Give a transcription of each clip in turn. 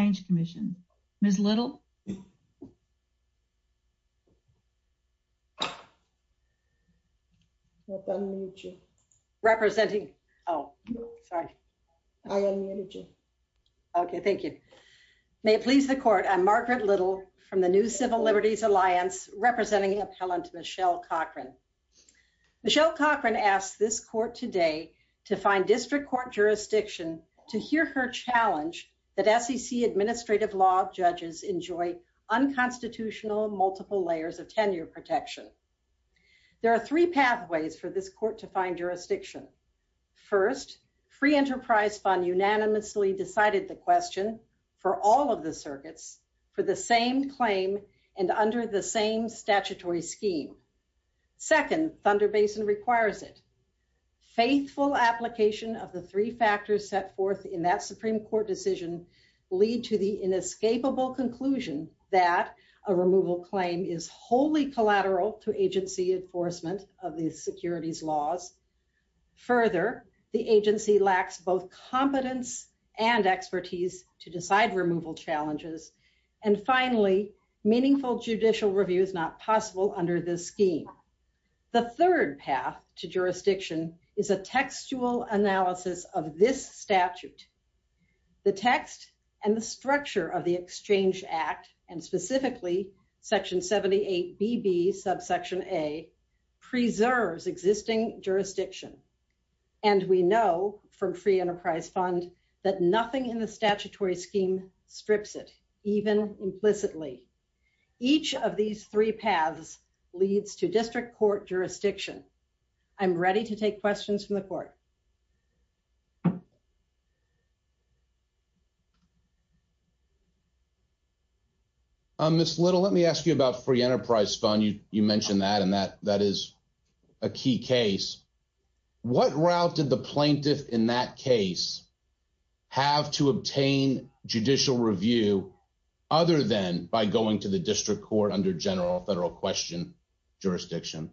Change Commission. Ms. Little, may it please the court, I'm Margaret Little from the New Civil Liberties Alliance, representing appellant Michelle Cochran. Michelle Cochran asked this Court to find jurisdiction. First, free enterprise fund unanimously decided the question for all of the circuits for the same claim and under the same statutory scheme. Second, Thunder Basin requires it. Faithful application of the three factors set forth in that Supreme Court decision lead to the inescapable conclusion that a removal claim is wholly collateral to agency enforcement of these securities laws. Further, the agency lacks both competence and expertise to decide removal challenges. And finally, meaningful judicial review is not possible under this scheme. The third path to jurisdiction is a textual analysis of this statute. The text and the structure of the Exchange Act, and specifically Section 78BB subsection A, preserves existing jurisdiction. And we know from free enterprise fund that nothing in the statutory scheme strips it, even implicitly. Each of these three paths leads to district court jurisdiction. I'm ready to take questions from the court. Miss Little, let me ask you about free enterprise fund. You mentioned that, and that is a key case. What route did the plaintiff in that case have to obtain judicial review other than by going to the district court under general federal question jurisdiction?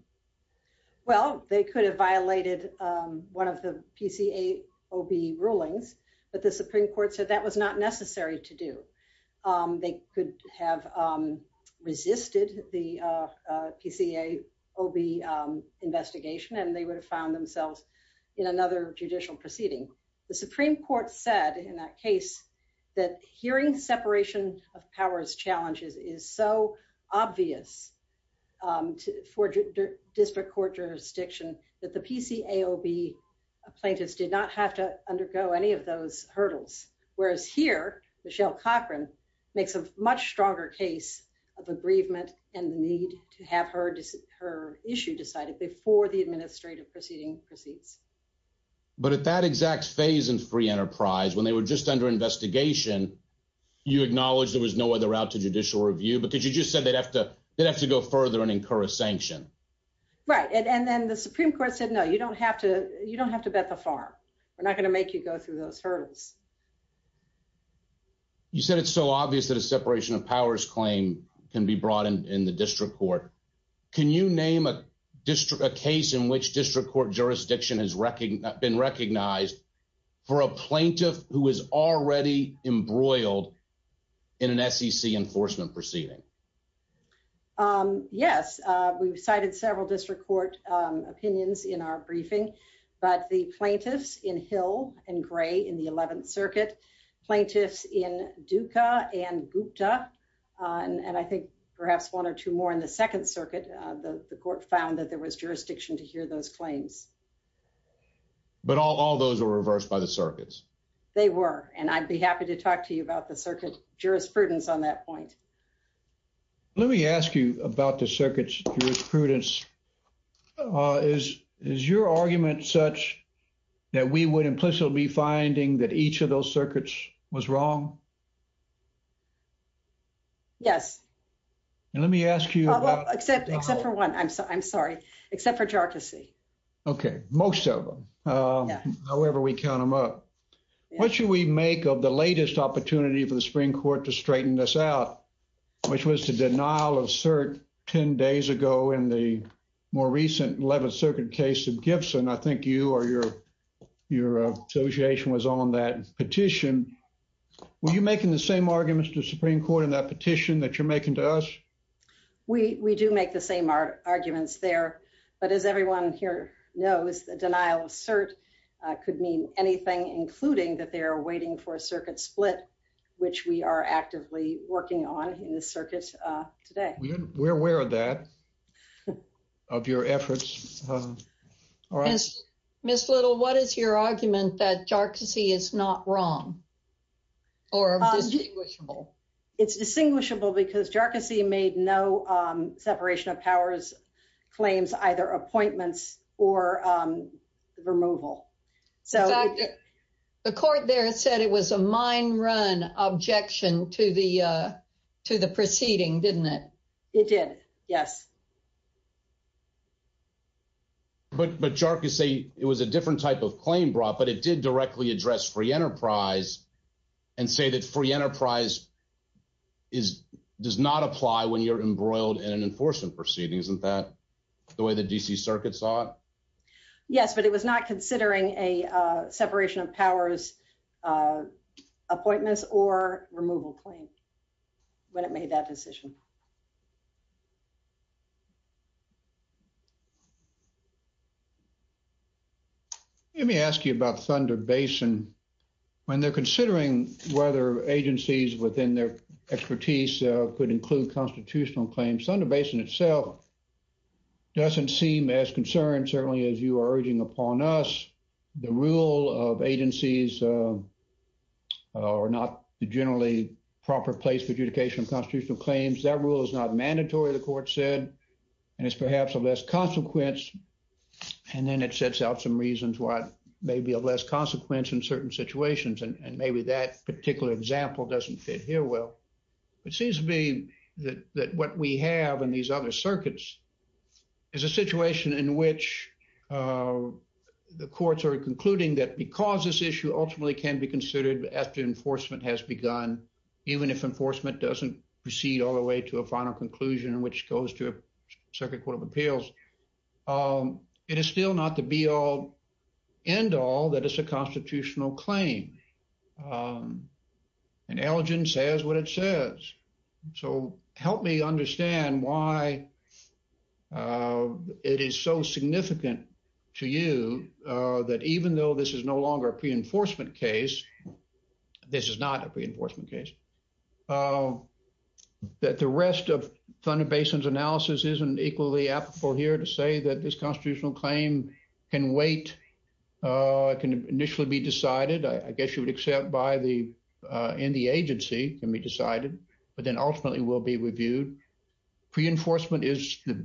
Well, they could have violated one of the PCA OB rulings, but the Supreme Court said that was not necessary to do. They could have resisted the PCA OB investigation, and they would have found themselves in another judicial proceeding. The Supreme Court said in that case that hearing separation of powers challenges is so obvious for district court jurisdiction that the PCA OB plaintiffs did not have to undergo any of those hurdles. Whereas here, Michelle Cochran makes a much stronger case of aggrievement and the need to have her issue decided before the administrative proceeding proceeds. But at that exact phase in free enterprise, when they were just under investigation, you acknowledged there was no other route to judicial review because you just said they'd have to go further and incur a sanction. Right. And then the Supreme Court said, you don't have to bet the farm. We're not going to make you go through those hurdles. You said it's so obvious that a separation of powers claim can be brought in the district court. Can you name a case in which district court jurisdiction has been recognized for a plaintiff who is already embroiled in an SEC enforcement proceeding? Yes, we've cited several district court opinions in our briefing, but the plaintiffs in Hill and Gray in the 11th Circuit, plaintiffs in Duca and Gupta, and I think perhaps one or two more in the 2nd Circuit, the court found that there was jurisdiction to hear those claims. But all those were reversed by the circuits. They were, and I'd be happy to talk to you about the Let me ask you about the circuit's jurisprudence. Is your argument such that we would implicitly be finding that each of those circuits was wrong? Yes. And let me ask you about... Except for one. I'm sorry. Except for jurisdiction. Okay. Most of them. However, we count them up. What should we make of the latest opportunity for the Supreme Court to straighten this out, which was the denial of cert 10 days ago in the more recent 11th Circuit case of Gibson. I think you or your association was on that petition. Were you making the same arguments to the Supreme Court in that petition that you're making to us? We do make the same arguments there, but as everyone here knows, the denial of cert could mean anything, including that they are waiting for a circuit split, which we are actively working on in the circuit today. We're aware of that, of your efforts. Ms. Little, what is your argument that jarcossy is not wrong or distinguishable? It's distinguishable because jarcossy made no separation of powers claims, either appointments or removal. The court there said it was a mine run objection to the proceeding, didn't it? It did. Yes. But jarcossy, it was a different type of claim brought, but it did directly address free enterprise and say that free enterprise does not apply when you're embroiled in an enforcement proceeding. Isn't that the way the D.C. Circuit saw it? Yes, but it was not considering a separation of powers appointments or removal claim when it made that decision. Let me ask you about Thunder Basin. When they're considering whether agencies within their jurisdiction, the court itself doesn't seem as concerned, certainly as you are urging upon us, the rule of agencies are not generally proper place for adjudication of constitutional claims. That rule is not mandatory, the court said, and it's perhaps of less consequence. And then it sets out some reasons why it may be of less consequence in certain situations, and maybe that particular example doesn't fit here well. It seems to me that what we have in these other circuits is a situation in which the courts are concluding that because this issue ultimately can be considered after enforcement has begun, even if enforcement doesn't proceed all the way to a final conclusion, which goes to a circuit court of appeals, it is still not the be-all, end-all that is a constitutional claim. And elegance says what it says. So help me understand why it is so significant to you that even though this is no longer a pre-enforcement case, this is not a pre-enforcement case, that the rest of Thunder Basin's analysis isn't equally applicable here to say that this constitutional claim can wait, can initially be decided, I guess you would accept, in the agency can be decided, but then ultimately will be reviewed. Pre-enforcement is a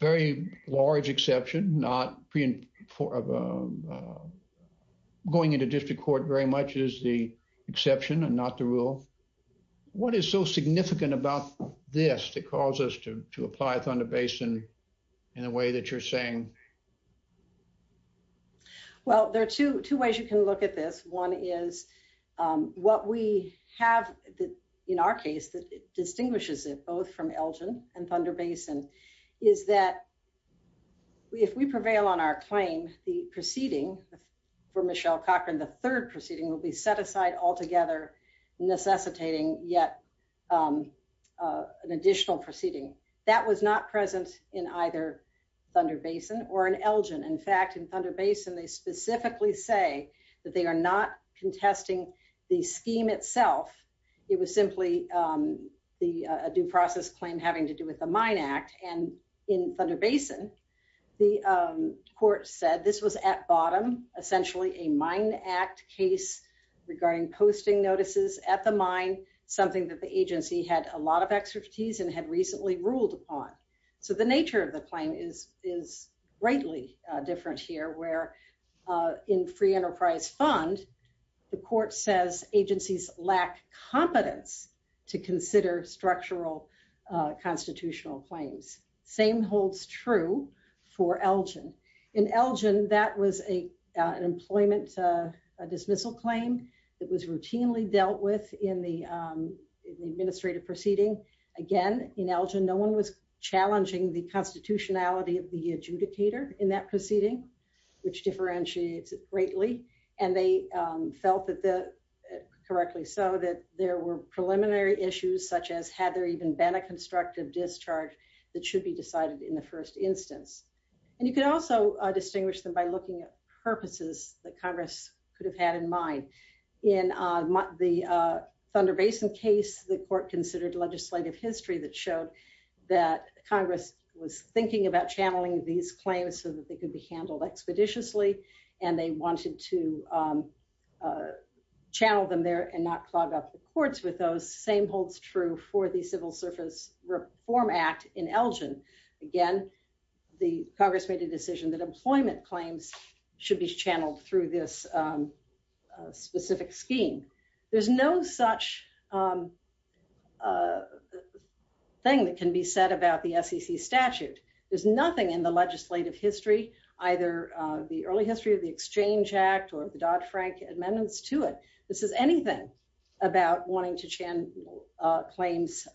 very large exception. Going into district court very much is the exception and not the rule. What is so significant about this that caused us to apply Thunder Basin in the way that you're saying? Well, there are two ways you can look at this. One is what we have in our case that distinguishes it both from Elgin and Thunder Basin is that if we prevail on our claim, the proceeding for Michelle Cochran, the third proceeding will be set aside altogether, necessitating yet an additional proceeding. That was not present in either Thunder Basin, or in Elgin. In fact, in Thunder Basin, they specifically say that they are not contesting the scheme itself. It was simply a due process claim having to do with the Mine Act. And in Thunder Basin, the court said this was at bottom, essentially a Mine Act case regarding posting notices at the mine, something that the agency had a lot of expertise and had recently ruled upon. So the nature of the claim is greatly different here where in free enterprise fund, the court says agencies lack competence to consider structural constitutional claims. Same holds true for Elgin. In Elgin, that was an employment dismissal claim that was routinely dealt with in the administrative proceeding. Again, in Elgin, no one was challenging the constitutionality of the adjudicator in that proceeding, which differentiates it greatly. And they felt that, correctly so, that there were preliminary issues such as had there even been a constructive discharge that should be decided in the first instance. And you can also distinguish them by looking at purposes that Congress could have had in mind. In the Thunder Basin case, the court considered legislative history that showed that Congress was thinking about channeling these claims so that they could be handled expeditiously and they wanted to channel them there and not clog up the courts with those. Same holds true for the Civil Surface Reform Act in Elgin. Again, the Congress made a decision that employment claims should be channeled through this specific scheme. There's no such thing that can be said about the SEC statute. There's nothing in the legislative history, either the early history of the Exchange Act or the Dodd-Frank Amendments to it, this is anything about wanting to channel claims,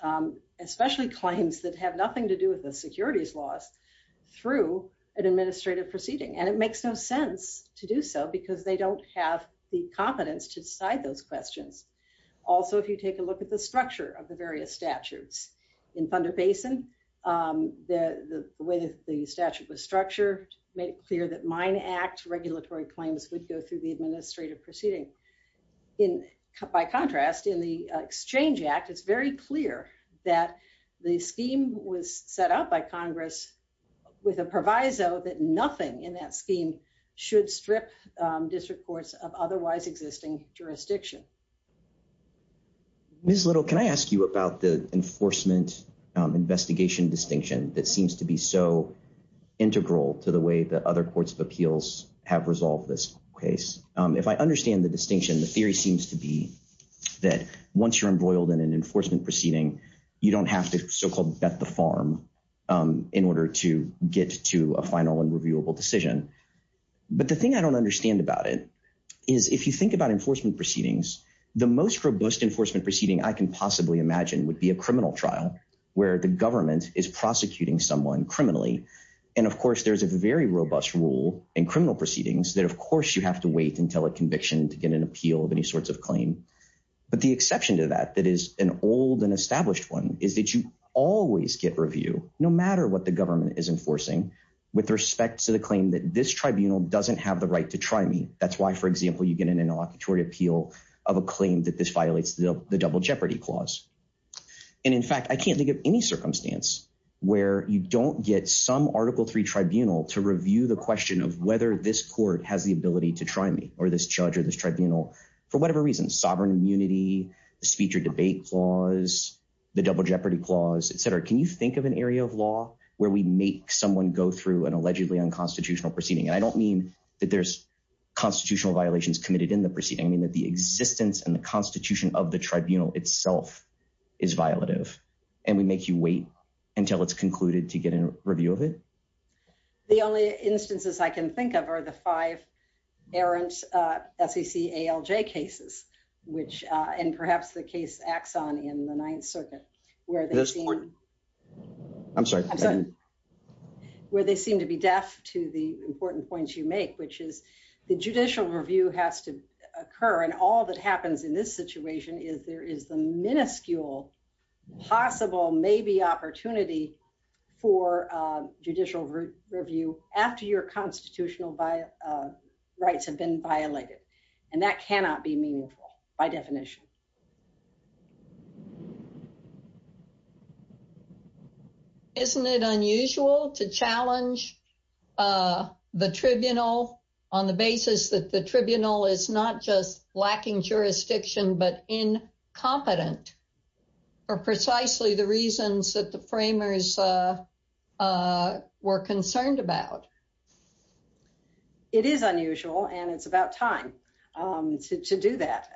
especially claims that have nothing to do with securities laws, through an administrative proceeding. And it makes no sense to do so because they don't have the competence to decide those questions. Also, if you take a look at the structure of the various statutes. In Thunder Basin, the way that the statute was structured made it clear that mine act regulatory claims would go through the administrative proceeding. In, by contrast, in the Exchange Act, it's very clear that the scheme was set up by Congress with a proviso that nothing in that scheme should strip district courts of otherwise existing jurisdiction. Ms. Little, can I ask you about the enforcement investigation distinction that seems to be so integral to the way that other courts of appeals have resolved this case? If I understand the distinction, the theory seems to be that once you're embroiled in an enforcement proceeding, you don't have to so-called bet the farm in order to get to a final and reviewable decision. But the thing I don't understand about it is if you think about enforcement proceedings, the most robust enforcement proceeding I can possibly imagine would be a criminal trial, where the government is prosecuting someone criminally. And of course, there's a very appeal of any sorts of claim. But the exception to that, that is an old and established one, is that you always get review, no matter what the government is enforcing, with respect to the claim that this tribunal doesn't have the right to try me. That's why, for example, you get an interlocutory appeal of a claim that this violates the double jeopardy clause. And in fact, I can't think of any circumstance where you don't get some article three tribunal to review the question of whether this court has the ability to try me or this judge or this tribunal, for whatever reason, sovereign immunity, the speech or debate clause, the double jeopardy clause, et cetera. Can you think of an area of law where we make someone go through an allegedly unconstitutional proceeding? And I don't mean that there's constitutional violations committed in the proceeding, I mean that the existence and the constitution of the tribunal itself is violative, and we make you wait until it's concluded to get a review of it. The only instances I can think of are the five errant SEC ALJ cases, and perhaps the case Axon in the Ninth Circuit, where they seem to be deaf to the important points you make, which is the judicial review has to occur, and all that happens in this situation is there is the minuscule possible maybe opportunity for judicial review after your constitutional rights have been violated, and that cannot be meaningful by definition. Isn't it unusual to challenge the tribunal on the basis that the tribunal is not just incompetent, or precisely the reasons that the framers were concerned about? It is unusual, and it's about time to do that.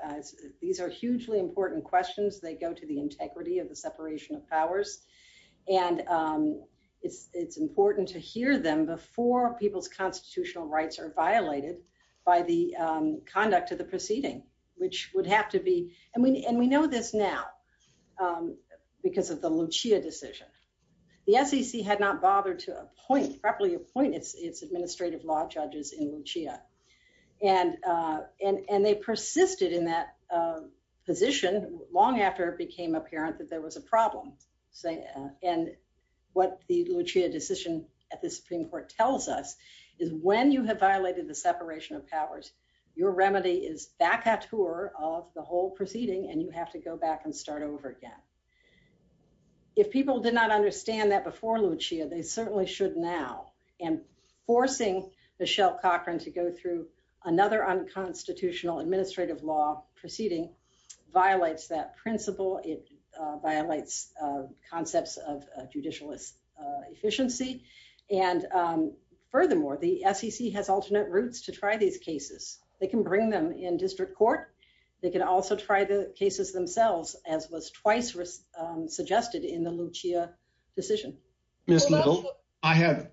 These are hugely important questions, they go to the integrity of the separation of powers, and it's important to hear them before people's constitutional rights are violated by the conduct of the proceeding, which would have to be, and we know this now, because of the Lucia decision. The SEC had not bothered to properly appoint its administrative law judges in Lucia, and they persisted in that position long after it became apparent that there was a problem, and what the Lucia decision at the Supreme Court tells us is when you have violated the separation of powers, your remedy is vacatur of the whole proceeding, and you have to go back and start over again. If people did not understand that before Lucia, they certainly should now, and forcing Michelle Cochran to go through another unconstitutional administrative law proceeding violates that principle, it violates concepts of judicial efficiency, and furthermore, the SEC has they can bring them in district court, they can also try the cases themselves, as was twice suggested in the Lucia decision. Ms. Little, I have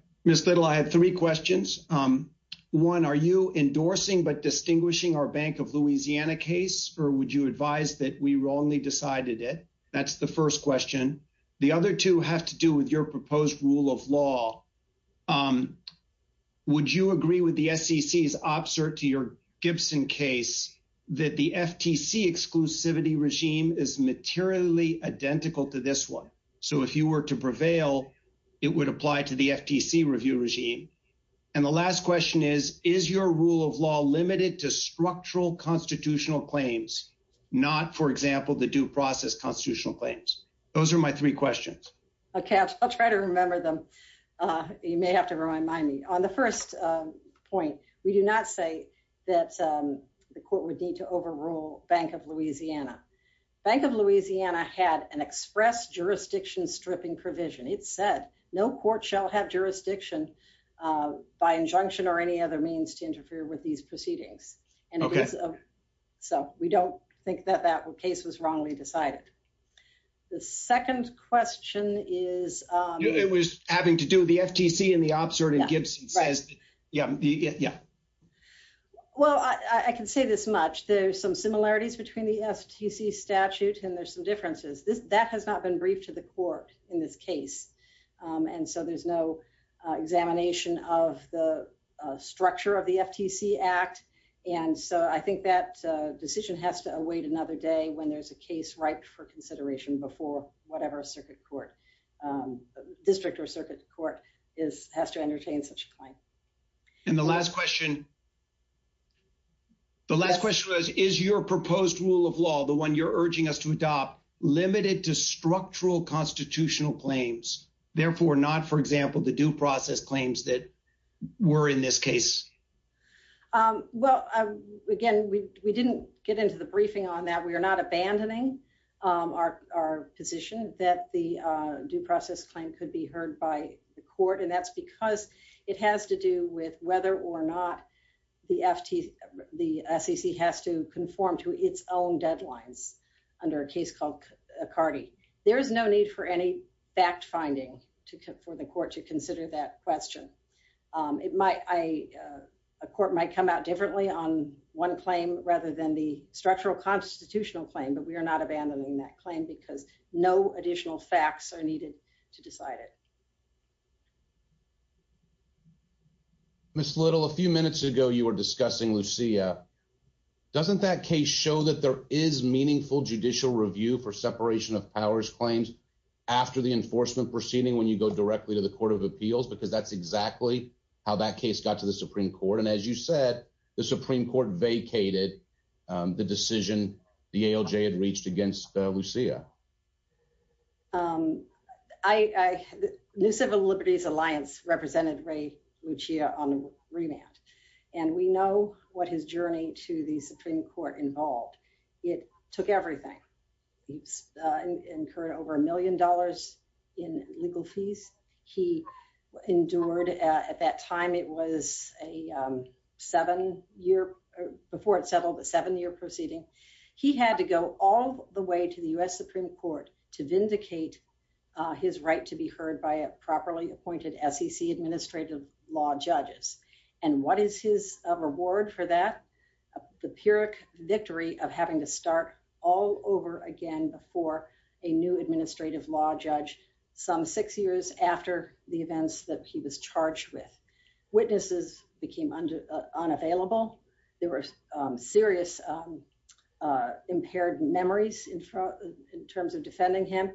three questions. One, are you endorsing but distinguishing our Bank of Louisiana case, or would you advise that we wrongly decided it? That's the first question. The other two have to do with your proposed rule of law. Would you agree with the SEC's opposite to your Gibson case that the FTC exclusivity regime is materially identical to this one? So, if you were to prevail, it would apply to the FTC review regime. And the last question is, is your rule of law limited to structural constitutional claims, not, for example, the due process constitutional claims? Those are my three questions. Okay, I'll try to remember them. You may have to remind me. On the first point, we do not say that the court would need to overrule Bank of Louisiana. Bank of Louisiana had an express jurisdiction stripping provision. It said no court shall have jurisdiction by injunction or any other means to interfere with these proceedings. Okay. So, we don't think that that case was wrongly decided. The second question is... It was having to do with the FTC and the opposite of Gibson says, yeah. Well, I can say this much. There's some similarities between the FTC statute and there's some differences. That has not been briefed to the court in this case. And so, there's no examination of the structure of the FTC Act. And so, I think that decision has to await another day when there's a case right for consideration before whatever district or circuit court has to entertain such a claim. And the last question... The last question was, is your proposed rule of law, the one you're urging us to adopt, limited to structural constitutional claims? Therefore, not, for example, the due process claims that were in this case? Well, again, we didn't get into the briefing on that. We are not abandoning our position that the due process claim could be heard by the court. And that's because it has to do with whether or not the SEC has to conform to its own deadlines under a case called McCarty. There is no need for any fact-finding for the court to consider that question. A court might come out differently on one claim rather than the structural constitutional claim, but we are not abandoning that claim because no additional facts are needed to decide it. Ms. Little, a few minutes ago, you were discussing Lucia. Doesn't that case show that there is meaningful judicial review for separation of powers claims after the enforcement proceeding when you go directly to the Court of Appeals? Because that's exactly how that case got to the Supreme Court. And as you said, the Supreme Court vacated the decision the ALJ had reached against Lucia. The New Civil Liberties Alliance represented Ray Lucia on remand. And we know what his journey to the Supreme Court involved. It took everything. He incurred over a million dollars in legal fees. He endured, at that time it was a seven-year, before it settled, a seven-year proceeding. He had to go all the way to the U.S. Supreme Court to vindicate his right to be heard by properly appointed SEC administrative law judges. And what is his reward for that? The pyrrhic victory of having to start all over again before a new administrative law judge some six years after the events that he was charged with. Witnesses became unavailable. There were serious impaired memories in terms of defending him.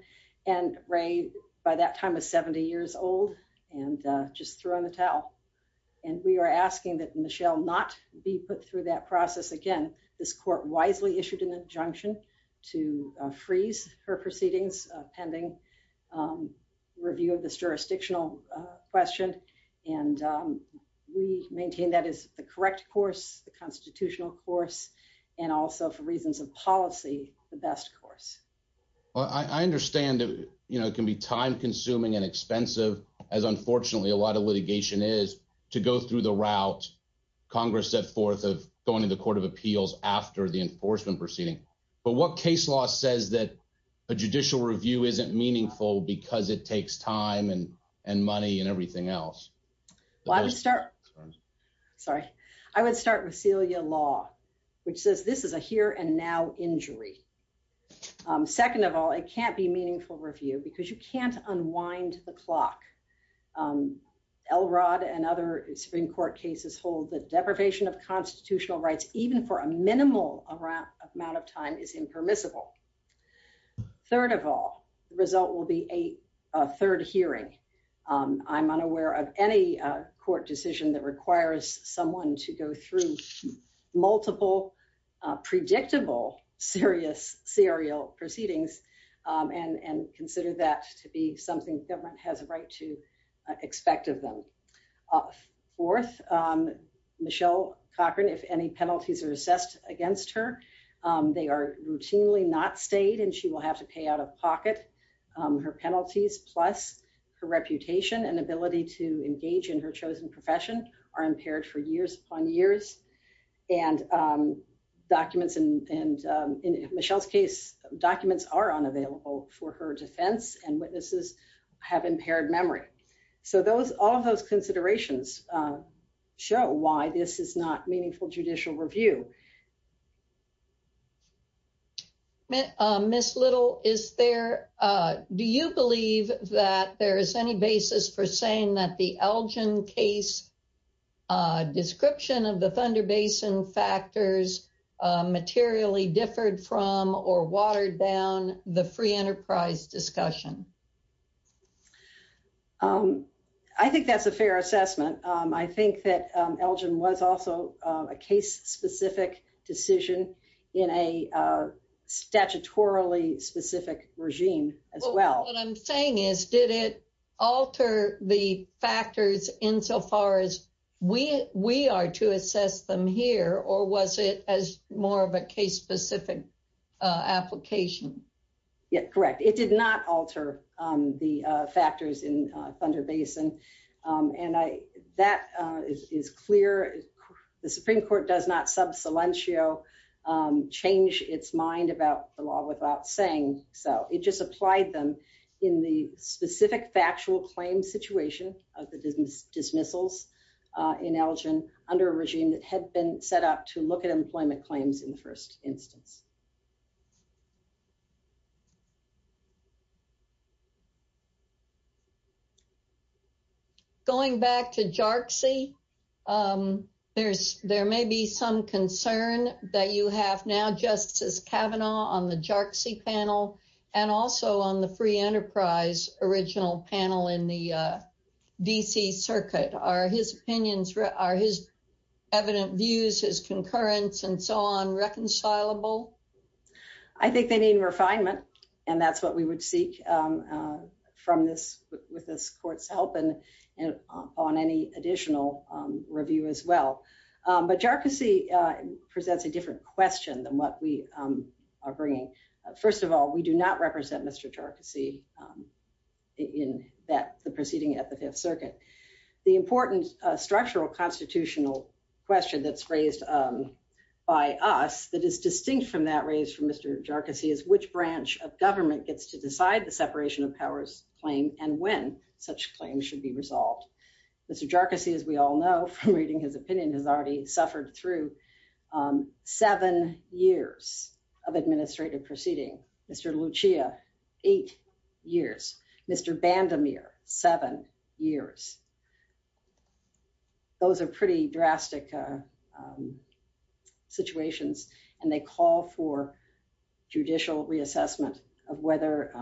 And Ray, by that time, was 70 years old and just threw in the towel. And we are asking that Michelle not be put through that process again. This court wisely issued an injunction to freeze her proceedings pending review of this jurisdictional question. And we maintain that is the correct course, the constitutional course, and also, for reasons of policy, the best course. I understand it can be time-consuming and expensive, as unfortunately a lot of litigation is, to go through the route Congress set forth of going to the Court of Appeals after the case. But what case law says that a judicial review isn't meaningful because it takes time and money and everything else? I would start with Celia Law, which says this is a here and now injury. Second of all, it can't be meaningful review because you can't unwind the clock. Elrod and other Supreme Court cases hold that deprivation of constitutional rights, even for a minimal amount of time, is impermissible. Third of all, the result will be a third hearing. I'm unaware of any court decision that requires someone to go through multiple, predictable, serious serial proceedings and consider that to be something government has a right to expect of them. Fourth, Michelle Cochran, if any penalties are assessed against her, they are routinely not stayed and she will have to pay out of pocket. Her penalties, plus her reputation and ability to engage in her chosen profession, are impaired for years upon years. And documents, and in Michelle's case, documents are unavailable for her defense, and witnesses have impaired memory. So those, all of those considerations show why this is not meaningful judicial review. Miss Little, is there, do you believe that there is any basis for saying that the Elgin case description of the Thunder Basin factors materially differed from or watered down the free enterprise discussion? I think that's a fair assessment. I think that Elgin was also a case-specific decision in a statutorily specific regime as well. What I'm saying is, did it alter the factors insofar as we are to assess them here, or was it as more of a case-specific application? Yeah, correct. It did not alter the factors in Thunder Basin, and that is clear. The Supreme Court does not sub silentio, change its mind about the law without saying so. It just applied them in the specific factual claim situation of the dismissals in Elgin under a regime that had been set up to look at employment claims in the first instance. Going back to JARCSI, there may be some concern that you have now, Justice Kavanaugh, on the JARCSI panel and also on the free enterprise original panel in the DC circuit. Are his opinions, are his evident views, his concurrence and so on reconcilable? I think they need refinement, and that's what we would seek with this court's help and on any additional review as well. But JARCSI presents a different question than what we are bringing. First of all, we do not represent Mr. JARCSI in the proceeding at the Fifth Circuit. The important structural constitutional question that's raised by us that is distinct from that raised from Mr. JARCSI is which branch of government gets to decide the separation of powers claim and when such claims should be resolved. Mr. JARCSI, as we all know from reading his opinion, has already suffered through seven years of administrative proceeding. Mr. Bandemir, seven years. Those are pretty drastic situations, and they call for judicial reassessment of whether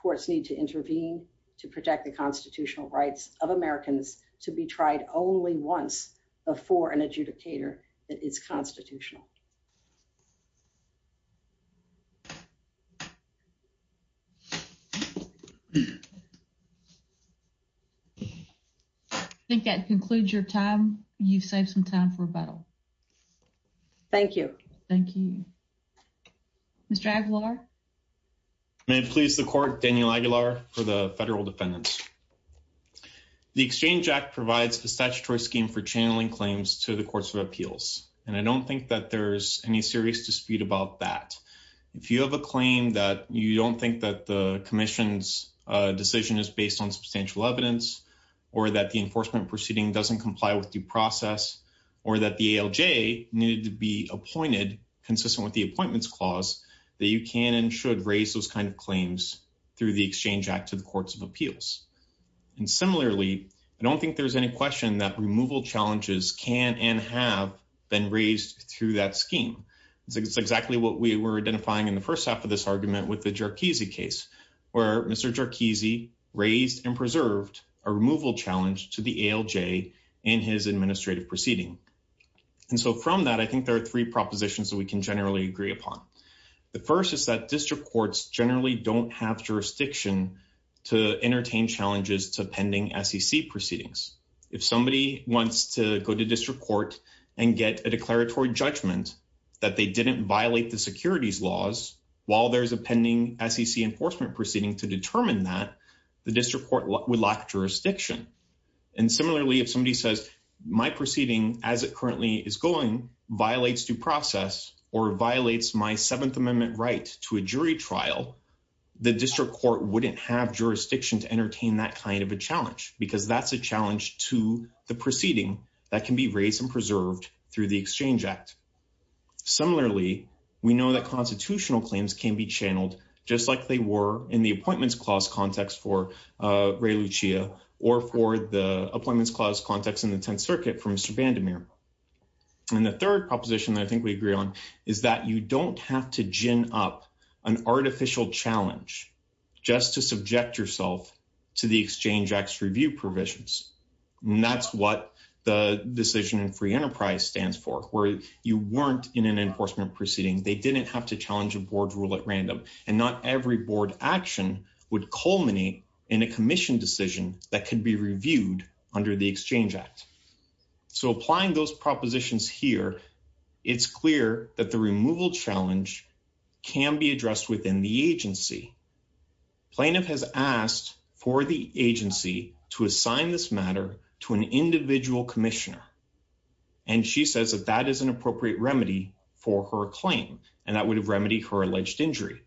courts need to intervene to protect the constitutional rights of Americans to be tried only once before an adjudicator that is constitutional. I think that concludes your time. You've saved some time for rebuttal. Thank you. Thank you. Mr. Aguilar. May it please the court, Daniel Aguilar for the federal defendants. The Exchange Act provides a statutory scheme for channeling claims to the courts of appeals, and I don't think that there's any serious dispute about that. If you have a claim that you don't think that the commission's decision is based on substantial evidence, or that the enforcement proceeding doesn't comply with due process, or that the ALJ needed to be appointed consistent with the appointments clause, that you can and should raise those kind of claims through the Exchange Act to the courts of appeals. And similarly, I don't think there's any question that removal challenges can and have been raised through that scheme. It's exactly what we were where Mr. Jarkizy raised and preserved a removal challenge to the ALJ in his administrative proceeding. And so from that, I think there are three propositions that we can generally agree upon. The first is that district courts generally don't have jurisdiction to entertain challenges to pending SEC proceedings. If somebody wants to go to district court and get a declaratory judgment that they didn't violate the securities laws, while there's a pending SEC enforcement proceeding to determine that, the district court would lack jurisdiction. And similarly, if somebody says, my proceeding, as it currently is going, violates due process, or violates my Seventh Amendment right to a jury trial, the district court wouldn't have jurisdiction to entertain that kind of a challenge, because that's a challenge to the proceeding that can be raised and preserved through the Exchange Act. Similarly, we know that constitutional claims can be channeled, just like they were in the Appointments Clause context for Ray Lucia, or for the Appointments Clause context in the Tenth Circuit for Mr. Vandermeer. And the third proposition that I think we agree on is that you don't have to gin up an artificial challenge just to subject yourself to the Exchange Act's review provisions. And that's what the decision in Free Enterprise stands for, where you weren't in an enforcement proceeding, they didn't have to challenge a board rule at random, and not every board action would culminate in a commission decision that could be reviewed under the Exchange Act. So applying those propositions here, it's clear that the removal challenge can be addressed within the agency. Plaintiff has asked for the agency to assign this matter to an individual commissioner, and she says that that is an appropriate remedy for her claim, and that would have remedied her alleged injury.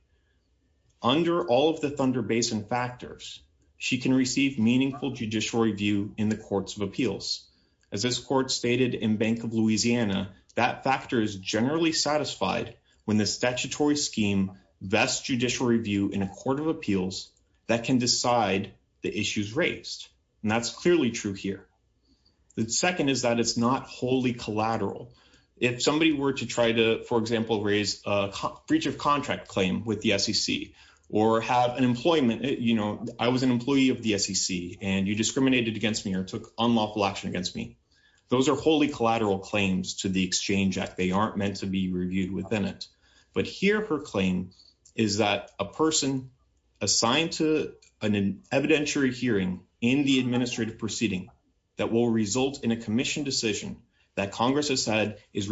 Under all of the Thunder Basin factors, she can receive meaningful judiciary view in the Courts of Appeals. As this court stated in Bank of Louisiana, that factor is generally satisfied when the statutory scheme vests judicial review in a Court of Appeals that can decide the issues raised. And that's clearly true here. The second is that it's not wholly collateral. If somebody were to try to, for example, raise a breach of contract claim with the SEC, or have an employment, you know, I was an employee of the SEC, and you discriminated against me or took unlawful action against me, those are wholly collateral claims to the Exchange Act. They aren't meant to be reviewed within it. But here her claim is that a person assigned to an evidentiary hearing in the administrative proceeding that will result in a commission decision that Congress has said is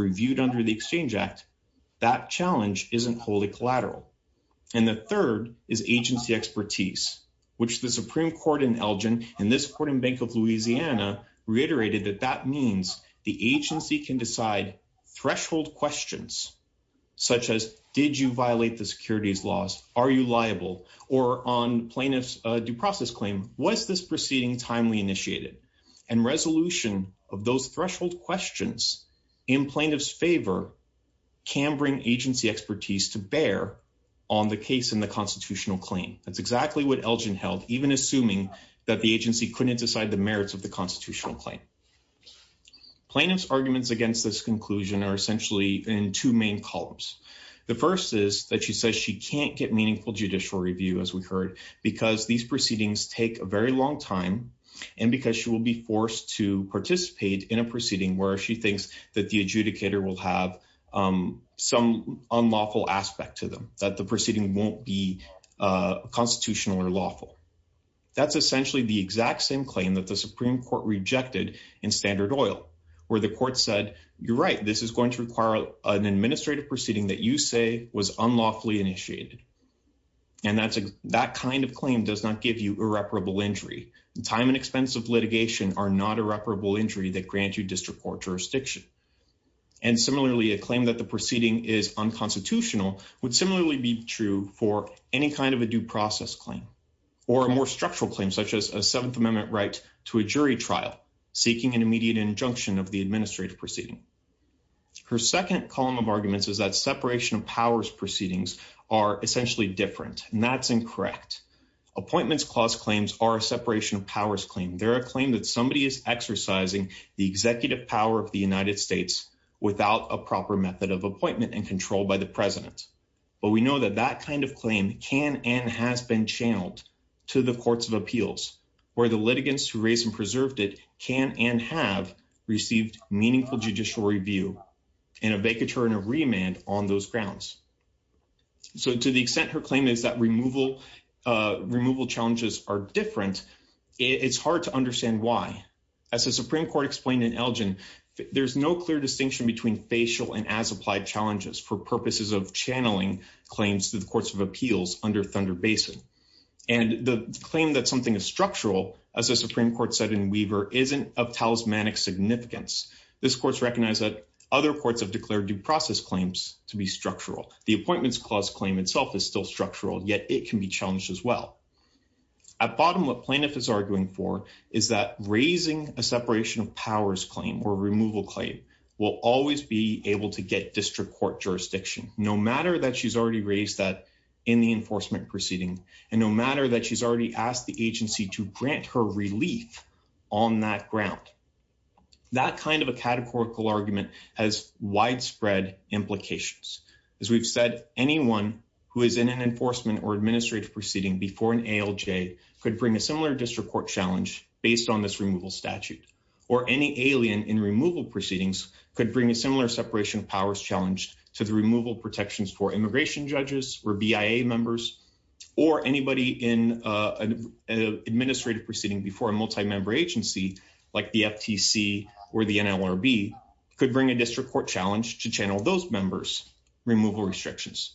which the Supreme Court in Elgin, in this court in Bank of Louisiana, reiterated that that means the agency can decide threshold questions such as, did you violate the securities laws? Are you liable? Or on plaintiff's due process claim, was this proceeding timely initiated? And resolution of those threshold questions in plaintiff's favor can bring agency expertise to bear on the case in the constitutional claim. That's exactly what Elgin held, even assuming that the agency couldn't decide the merits of the constitutional claim. Plaintiff's arguments against this conclusion are essentially in two main columns. The first is that she says she can't get meaningful judicial review, as we heard, because these proceedings take a very long time and because she will be forced to participate in a proceeding where she thinks that the adjudicator will have some unlawful aspect to them, that the proceeding won't be constitutional or lawful. That's essentially the exact same claim that the Supreme Court rejected in Standard Oil, where the court said, you're right, this is going to require an administrative proceeding that you say was unlawfully initiated. And that kind of claim does not give you irreparable injury. Time and expense of litigation are not irreparable injury that grant you district court jurisdiction. And similarly, a claim that the proceeding is unconstitutional would similarly be true for any kind of a due process claim or a more structural claim, such as a Seventh Amendment right to a jury trial seeking an immediate injunction of the administrative proceeding. Her second column of arguments is that separation of powers proceedings are essentially different, and that's incorrect. Appointments clause claims are a separation of powers claim. They're a claim that somebody is exercising the executive power of the United without a proper method of appointment and control by the president. But we know that that kind of claim can and has been channeled to the courts of appeals, where the litigants who raised and preserved it can and have received meaningful judicial review and a vacatur and a remand on those grounds. So to the extent her claim is that removal challenges are different, it's hard to understand why. As the Supreme Court explained in Elgin, there's no clear distinction between facial and as-applied challenges for purposes of channeling claims to the courts of appeals under Thunder Basin. And the claim that something is structural, as the Supreme Court said in Weaver, isn't of talismanic significance. This court's recognized that other courts have declared due process claims to be structural. The appointments clause claim itself is still structural, yet it can be challenged as well. At bottom, plaintiff is arguing for is that raising a separation of powers claim or removal claim will always be able to get district court jurisdiction, no matter that she's already raised that in the enforcement proceeding, and no matter that she's already asked the agency to grant her relief on that ground. That kind of a categorical argument has widespread implications. As we've said, anyone who is in an enforcement or administrative proceeding before an ALJ could bring a similar district court challenge based on this removal statute, or any alien in removal proceedings could bring a similar separation of powers challenge to the removal protections for immigration judges or BIA members, or anybody in an administrative proceeding before a multi-member agency, like the FTC or the NLRB, could bring a district court challenge to channel those members' removal restrictions.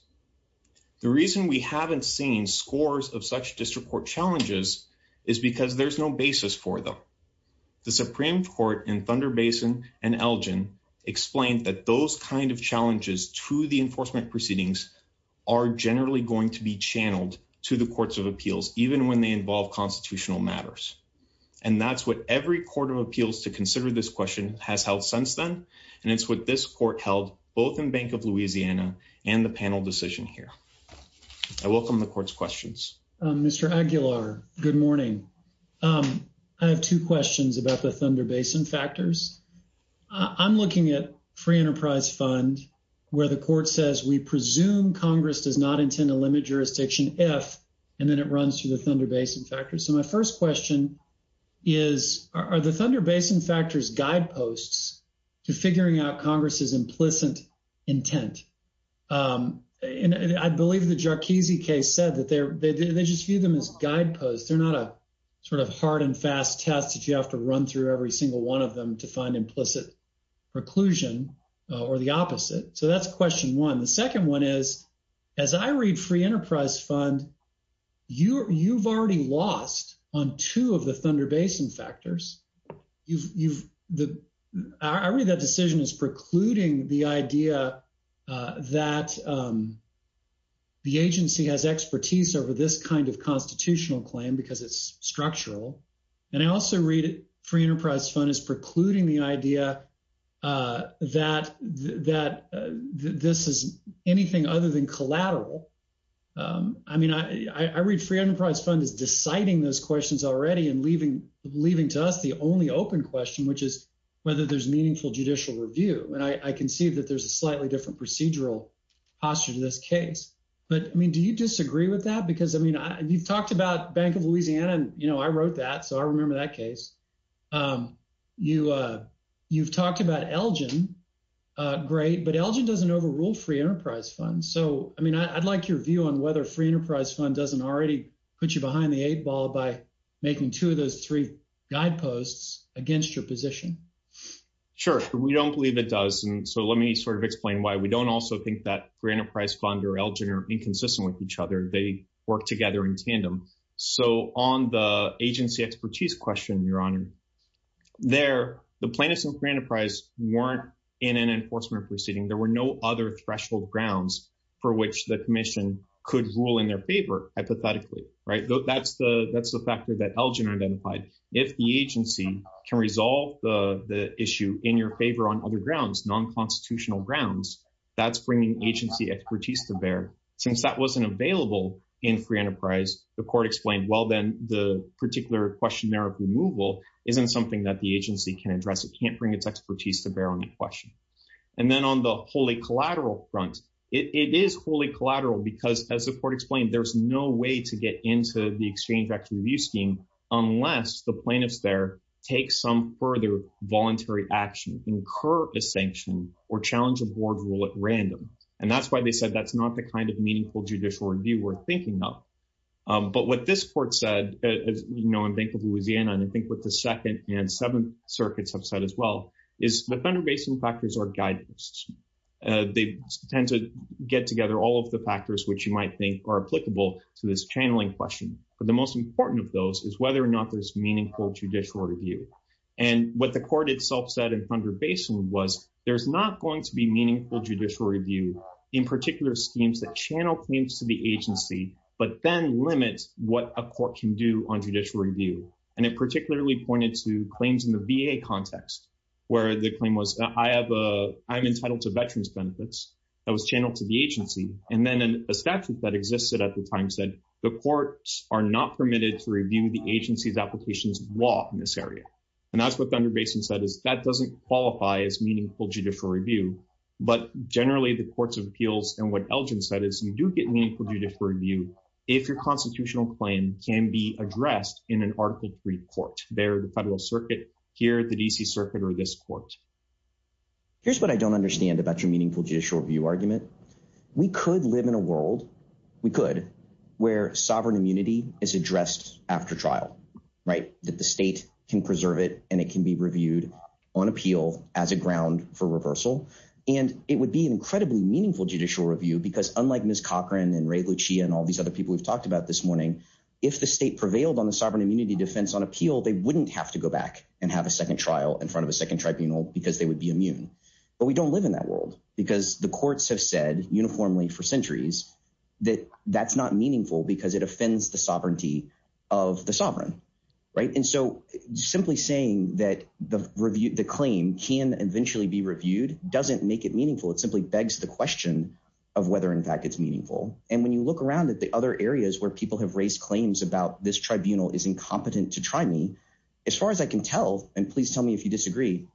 The reason we haven't seen scores of such district court challenges is because there's no basis for them. The Supreme Court in Thunder Basin and Elgin explained that those kind of challenges to the enforcement proceedings are generally going to be channeled to the courts of appeals, even when they involve constitutional matters. And that's what every court of appeals to consider this question has held since then, and it's what this court held both in Bank of Louisiana and the panel decision here. I welcome the court's questions. Mr. Aguilar, good morning. I have two questions about the Thunder Basin factors. I'm looking at Free Enterprise Fund where the court says we presume Congress does not intend to limit jurisdiction if, and then it runs through the Thunder Basin factors. So my first question is, are the Thunder Basin factors guideposts to figuring out Congress's implicit intent? And I believe the Jarkizi case said that they just view them as guideposts. They're not a sort of hard and fast test that you have to run through every single one of them to find implicit preclusion or the opposite. So that's question one. The second one is, as I read Free Enterprise Fund, you've already lost on two of the Thunder Basin factors. I read that decision as precluding the idea that the agency has expertise over this kind of constitutional claim because it's structural. And I also read Free Enterprise Fund as precluding the idea that this is anything other than collateral. I mean, I read Free Enterprise Fund as deciding those questions already and leaving to us the only open question, which is whether there's meaningful judicial review. And I can see that there's a slightly different procedural posture to this case. But I mean, do you disagree with that? Because I mean, you've talked about Bank of Louisiana, and I wrote that, so I remember that case. You've talked about Elgin. Great. But Elgin doesn't overrule Free Enterprise Fund. So, I mean, I'd like your view on whether Free Enterprise Fund doesn't already put you behind the eight ball by making two of those three guideposts against your position. Sure. We don't believe it does. And so let me sort of explain why. We don't also think that Free Enterprise Fund or Elgin are inconsistent with each other. They work together in tandem. So on the agency expertise question, Your Honor, there, the plaintiffs in Free Enterprise weren't in an enforcement proceeding. There were no other threshold grounds for which the commission could rule in their favor, hypothetically, right? That's the factor that Elgin identified. If the agency can resolve the issue in your favor on other grounds, non-constitutional grounds, that's bringing agency expertise to bear. Since that wasn't available in Free Enterprise, the court explained, well, then the particular question there of removal isn't something that the agency can address. It can't bring its expertise to bear on the question. And then on the wholly collateral front, it is wholly collateral because, as the court explained, there's no way to get into the Exchange Act review scheme unless the plaintiffs there take some further voluntary action, incur a sanction, or challenge a board rule at random. And that's why they said that's not the kind of meaningful judicial review we're thinking of. But what this court said, you know, in Bank of Louisiana, and I think what the Second and Seventh Circuits have said as well, is the Thunder Basin factors are guidance. They tend to get together all of the factors which you might think are applicable to this channeling question. But the most important of those is whether or not there's meaningful judicial review. And what the court itself said in Thunder Basin was there's not going to be what a court can do on judicial review. And it particularly pointed to claims in the VA context, where the claim was, I'm entitled to veterans' benefits. That was channeled to the agency. And then a statute that existed at the time said, the courts are not permitted to review the agency's applications of law in this area. And that's what Thunder Basin said is that doesn't qualify as meaningful judicial review. But generally, the courts of appeals and what constitutional claim can be addressed in an Article III court, the Federal Circuit, here at the D.C. Circuit, or this court. Here's what I don't understand about your meaningful judicial review argument. We could live in a world, we could, where sovereign immunity is addressed after trial, right, that the state can preserve it and it can be reviewed on appeal as a ground for reversal. And it would be an incredibly meaningful judicial review because unlike Ms. Cochran and Ray Lucia and all these other people we've talked about this morning, if the state prevailed on the sovereign immunity defense on appeal, they wouldn't have to go back and have a second trial in front of a second tribunal because they would be immune. But we don't live in that world because the courts have said uniformly for centuries that that's not meaningful because it offends the sovereignty of the sovereign, right. And so simply saying that the review, the claim can eventually be reviewed doesn't make it meaningful. It simply begs the question of whether in fact it's meaningful. And when you look around at the other areas where people have raised claims about this tribunal is incompetent to try me, as far as I can tell, and please tell me if you disagree,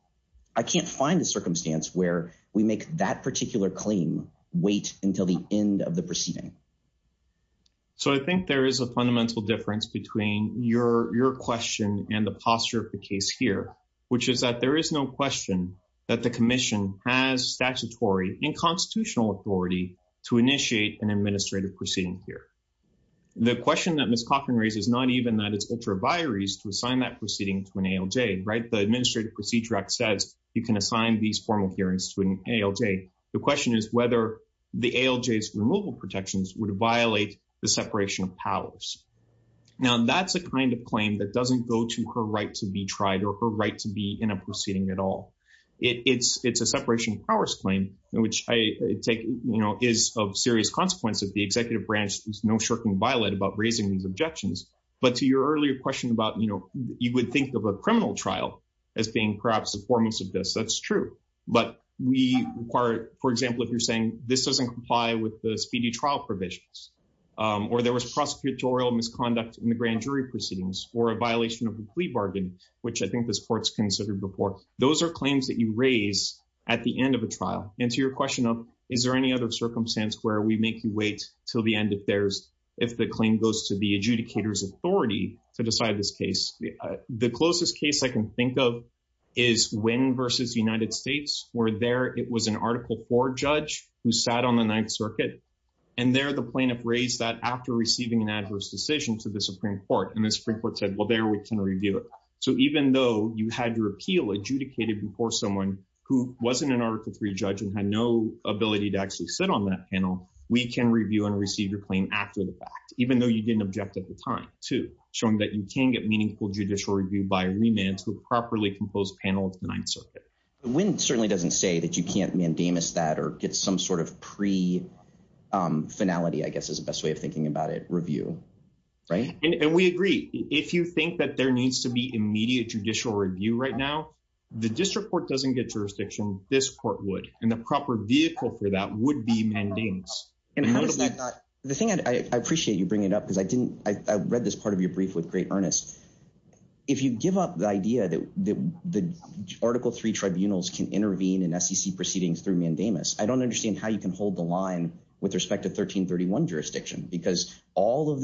I can't find a circumstance where we make that particular claim wait until the end of the proceeding. So I think there is a fundamental difference between your question and the posture of the constitutional authority to initiate an administrative proceeding here. The question that Ms. Cochran raises is not even that it's ultra vires to assign that proceeding to an ALJ, right. The Administrative Procedure Act says you can assign these formal hearings to an ALJ. The question is whether the ALJ's removal protections would violate the separation of powers. Now that's a kind of claim that doesn't go to her right to be tried or her right to be at all. It's a separation of powers claim, which I take, you know, is of serious consequence that the executive branch is no shirking violet about raising these objections. But to your earlier question about, you know, you would think of a criminal trial as being perhaps the foremost of this. That's true. But we require, for example, if you're saying this doesn't comply with the speedy trial provisions, or there was prosecutorial misconduct in the grand jury proceedings or a considered report. Those are claims that you raise at the end of a trial. And to your question of, is there any other circumstance where we make you wait till the end if there's, if the claim goes to the adjudicator's authority to decide this case? The closest case I can think of is Wynn versus United States, where there it was an Article IV judge who sat on the Ninth Circuit. And there the plaintiff raised that after receiving an adverse decision to the Supreme Court. And the had your appeal adjudicated before someone who wasn't an Article III judge and had no ability to actually sit on that panel, we can review and receive your claim after the fact, even though you didn't object at the time to showing that you can get meaningful judicial review by a remand to a properly composed panel of the Ninth Circuit. Wynn certainly doesn't say that you can't mandamus that or get some sort of pre finality, I guess, is the best way of thinking about it review. Right. And we agree, if you think that there needs to be immediate judicial review right now, the district court doesn't get jurisdiction, this court would, and the proper vehicle for that would be mandamus. And how does that not, the thing I appreciate you bringing up, because I didn't, I read this part of your brief with great earnest. If you give up the idea that the Article III tribunals can intervene in SEC proceedings through mandamus, I don't understand how you can hold the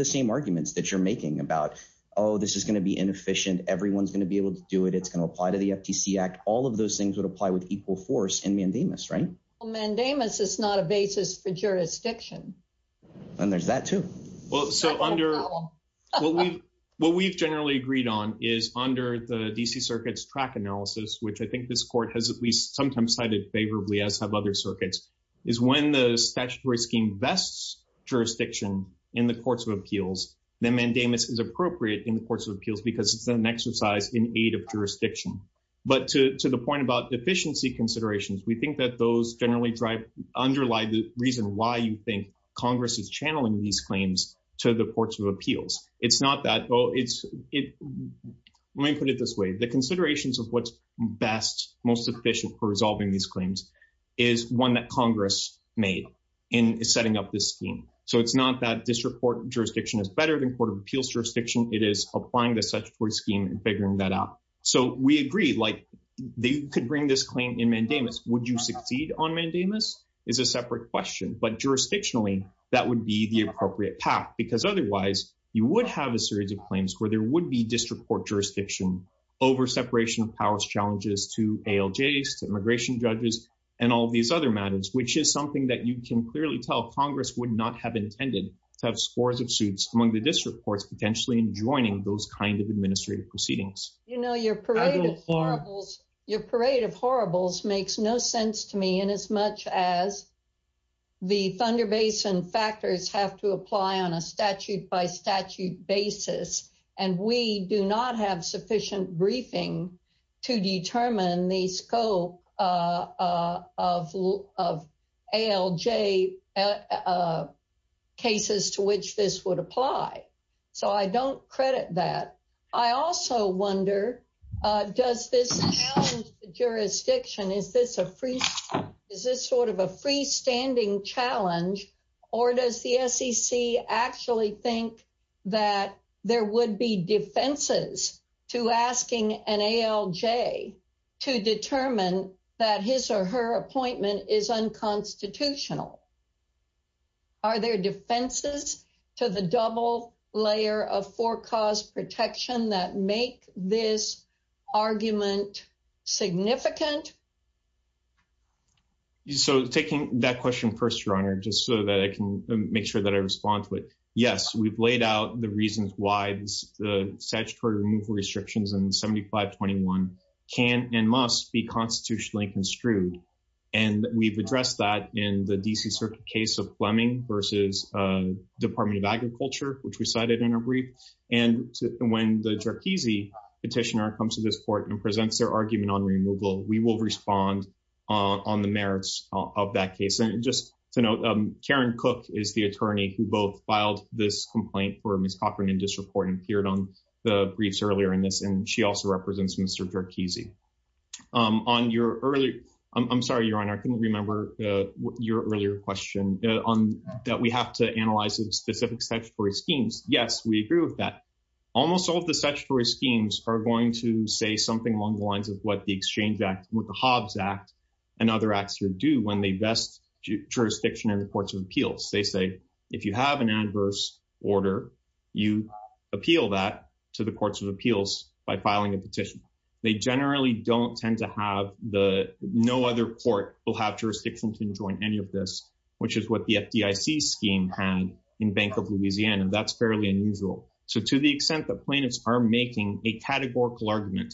same arguments that you're making about, oh, this is going to be inefficient, everyone's going to be able to do it, it's going to apply to the FTC Act, all of those things would apply with equal force and mandamus, right? Well, mandamus is not a basis for jurisdiction. And there's that too. Well, so under, what we've generally agreed on is under the DC Circuit's track analysis, which I think this court has at least sometimes cited favorably as have other circuits, is when the statutory scheme vests jurisdiction in the courts of appeals, then mandamus is appropriate in the courts of appeals because it's an exercise in aid of jurisdiction. But to the point about deficiency considerations, we think that those generally drive, underlie the reason why you think Congress is channeling these claims to the courts of appeals. It's not that, oh, it's, let me put it this way, the considerations of what's best, most efficient for resolving these claims is one that Congress made in setting up this scheme. So it's not that district court jurisdiction is better than court of appeals jurisdiction, it is applying the statutory scheme and figuring that out. So we agree, like, they could bring this claim in mandamus. Would you succeed on mandamus is a separate question, but jurisdictionally, that would be the appropriate path because otherwise you would have a series of claims where there would be district court jurisdiction over separation of powers challenges to ALJs, immigration judges, and all these other matters, which is something that you can clearly tell Congress would not have intended to have scores of suits among the district courts, potentially joining those kinds of administrative proceedings. You know, your parade of horribles, your parade of horribles makes no sense to me in as much as the Thunder Basin factors have to apply on a briefing to determine the scope of ALJ cases to which this would apply. So I don't credit that. I also wonder, does this jurisdiction is this a free, is this sort of a freestanding challenge, or does the SEC actually think that there would be defenses to asking an ALJ to determine that his or her appointment is unconstitutional? Are there defenses to the double layer of forecast protection that make this argument significant? So taking that question first, Your Honor, just so that I can make sure that I respond to it. Yes, we've laid out the reasons why the statutory removal restrictions in 7521 can and must be constitutionally construed. And we've addressed that in the DC Circuit case of Fleming versus Department of Agriculture, which we cited in a brief. And when the Jarkizy petitioner comes to this court and presents their argument on removal, we will respond on the merits of that case. And just to note, Karen Cook is the attorney who both filed this complaint for Ms. Cochran in this report and appeared on the briefs earlier in this, and she also represents Mr. Jarkizy. On your earlier, I'm sorry, Your Honor, I couldn't remember your earlier question that we have to analyze the specific statutory schemes. Yes, we agree with that. Almost all of the statutory schemes are going to say something along the lines of what the Exchange Act, what the Hobbs Act and other acts should do when they vest jurisdiction in the courts of appeals. They say, if you have an adverse order, you appeal that to the courts of appeals by filing a petition. They generally don't tend to have the, no other court will have jurisdiction to enjoin any of this, which is what the FDIC scheme had in Bank of Louisiana. That's fairly unusual. So to the a categorical argument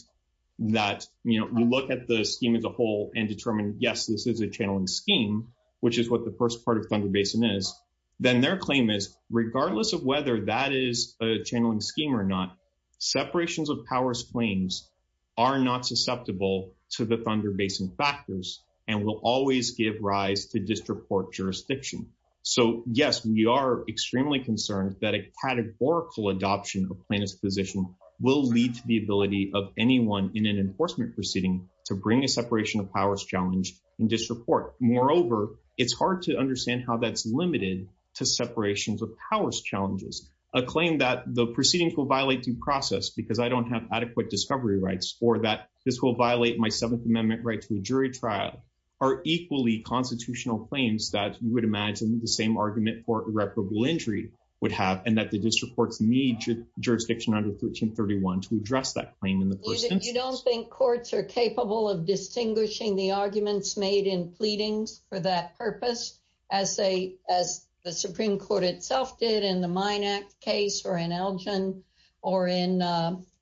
that, you know, we look at the scheme as a whole and determine, yes, this is a channeling scheme, which is what the first part of Thunder Basin is, then their claim is, regardless of whether that is a channeling scheme or not, separations of powers claims are not susceptible to the Thunder Basin factors and will always give rise to disreport jurisdiction. So yes, we are extremely concerned that a categorical adoption of plaintiff's position will lead to the ability of anyone in an enforcement proceeding to bring a separation of powers challenge and disreport. Moreover, it's hard to understand how that's limited to separations of powers challenges. A claim that the proceedings will violate due process because I don't have adequate discovery rights or that this will violate my Seventh Amendment right to a jury trial are equally constitutional claims that you would imagine the same argument for irreparable injury would have and that the district courts need jurisdiction under 1331 to address that claim in the first instance. You don't think courts are capable of distinguishing the arguments made in pleadings for that purpose as the Supreme Court itself did in the Minack case or in Elgin or in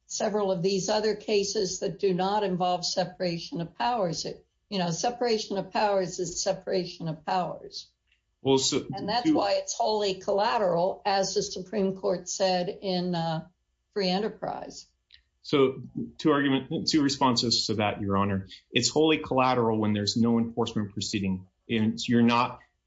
several of these other cases that do not involve separation of powers. Separation of powers is separation of powers. And that's why it's wholly collateral as the Supreme Court said in Free Enterprise. So two responses to that, Your Honor. It's wholly collateral when there's no enforcement proceeding.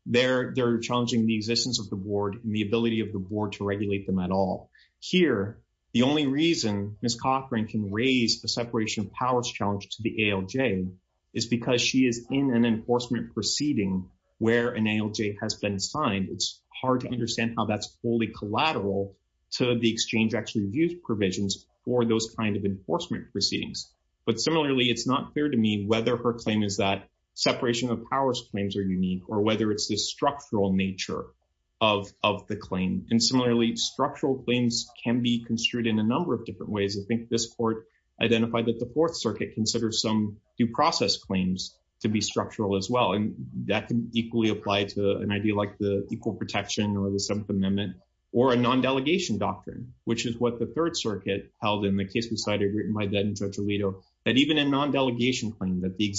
They're challenging the existence of and the ability of the board to regulate them at all. Here, the only reason Ms. Cochran can raise the separation of powers challenge to the ALJ is because she is in an enforcement proceeding where an ALJ has been signed. It's hard to understand how that's wholly collateral to the exchange actually views provisions for those kinds of enforcement proceedings. But similarly, it's not clear to me whether her claim is that separation of powers claims are structural nature of the claim. And similarly, structural claims can be construed in a number of different ways. I think this court identified that the Fourth Circuit considers some due process claims to be structural as well. And that can equally apply to an idea like the Equal Protection or the Seventh Amendment or a non-delegation doctrine, which is what the Third Circuit held in the case we cited written by then Judge Alito, that even a non-delegation claim that the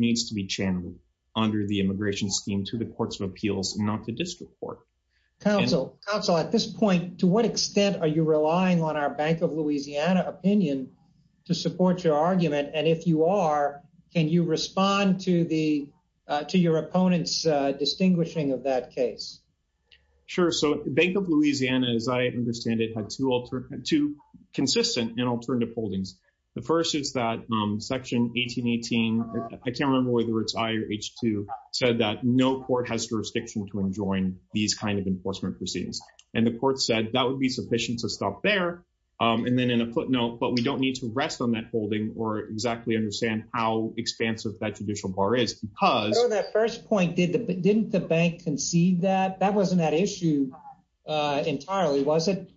needs to be channeled under the immigration scheme to the courts of appeals, not the district court. Counsel, at this point, to what extent are you relying on our Bank of Louisiana opinion to support your argument? And if you are, can you respond to your opponent's distinguishing of that case? Sure. So Bank of Louisiana, as I understand it, had two consistent and I can't remember whether it's I or H2, said that no court has jurisdiction to enjoin these kind of enforcement proceedings. And the court said that would be sufficient to stop there. And then in a footnote, but we don't need to rest on that holding or exactly understand how expansive that judicial bar is because... So that first point, didn't the bank concede that? That wasn't that issue entirely, was it?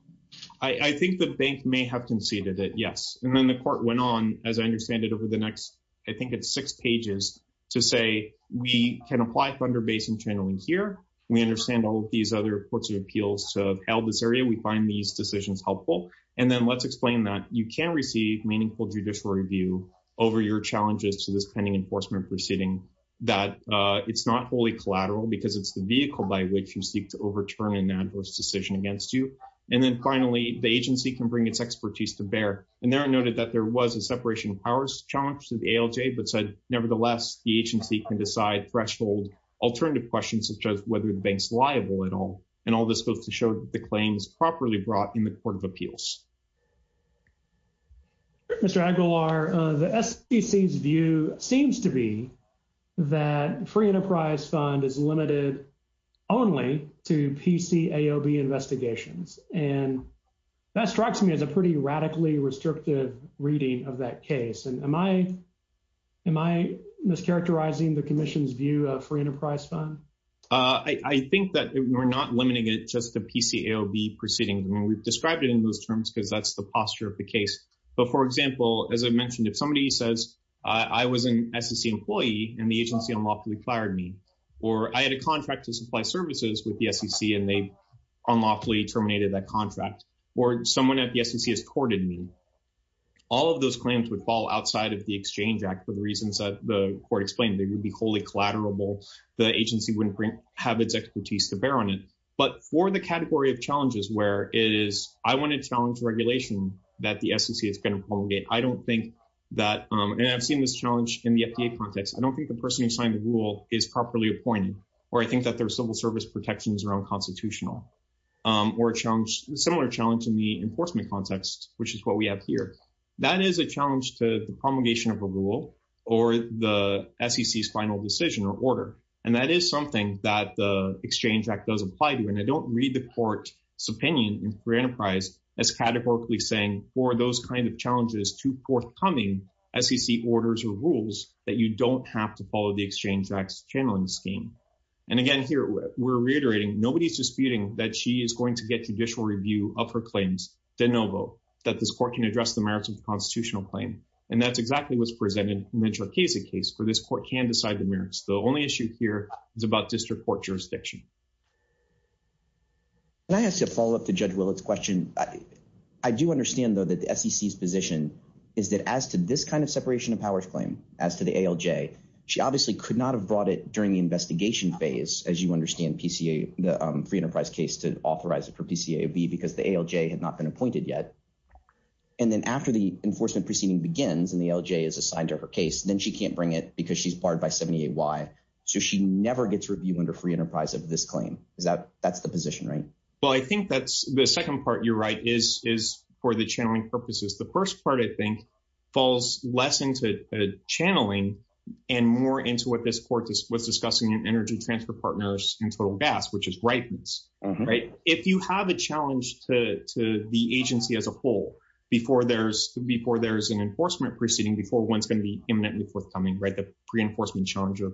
I think the bank may have conceded it, yes. And then the court went on, as I understand it, over the next, I think it's six pages to say, we can apply Thunder Basin channeling here. We understand all of these other courts of appeals to have held this area. We find these decisions helpful. And then let's explain that you can receive meaningful judicial review over your challenges to this pending enforcement proceeding, that it's not wholly collateral because it's the vehicle by which you seek to overturn an adverse decision against you. And then finally, the agency can bring its expertise to bear. And there I noted that there was a separation of powers challenge to the ALJ, but said, nevertheless, the agency can decide threshold alternative questions such as whether the bank's liable at all. And all this goes to show that the claim is properly brought in the court of appeals. Mr. Aguilar, the SEC's view seems to be that free enterprise fund is limited only to PCAOB investigations. And that strikes me as a pretty radically restrictive reading of that case. And am I mischaracterizing the commission's view of free enterprise fund? I think that we're not limiting it just to PCAOB proceedings. I mean, we've described it in those terms because that's the posture of the case. But for example, as I mentioned, if somebody says, I was an SEC employee and the agency unlawfully fired me, or I had a contract to supply services with the SEC and they unlawfully terminated that contract, or someone at the SEC has courted me, all of those claims would fall outside of the Exchange Act for the reasons that the court explained. They would be wholly collateral. The agency wouldn't have its expertise to bear on it. But for the category of challenges where it is, I want to challenge regulation that the SEC is going to promulgate. I don't think that, and I've seen this challenge in the FDA context, I don't think the person who signed the rule is properly appointed, or I think that their civil service protections are unconstitutional, or a similar challenge in the enforcement context, which is what we have here. That is a challenge to the promulgation of a rule or the SEC's final decision or order. And that is something that the Exchange Act does apply to. And I don't read the court's opinion in free enterprise as categorically saying for those kinds of challenges to forthcoming SEC orders or rules that you don't have to follow the Exchange Act's channeling scheme. And again, here, we're reiterating, nobody's disputing that she is going to get judicial review of her claims de novo, that this court can address the merits of the constitutional claim. And that's exactly what's presented in the Tracheza case, for this court can decide the merits. The only issue here is about district court jurisdiction. Can I ask a follow-up to Judge Willett's question? I do understand, though, that the SEC's position is that as to this kind of separation of powers claim, as to the ALJ, she obviously could not have brought it during the investigation phase, as you understand the free enterprise case to authorize it for PCAOB because the ALJ had not been appointed yet. And then after the enforcement proceeding begins and the ALJ is assigned to her case, then she can't bring it because she's barred by 78Y. So she never gets review under free enterprise of this claim. That's the position, right? Well, I think that's the second part you're right is for the channeling purposes. The first part, I think, falls less into channeling and more into what this court was discussing in energy transfer partners in total gas, which is ripens. If you have a challenge to the agency as a whole before there's an enforcement proceeding, before one's going to be imminently forthcoming, the reinforcement challenge of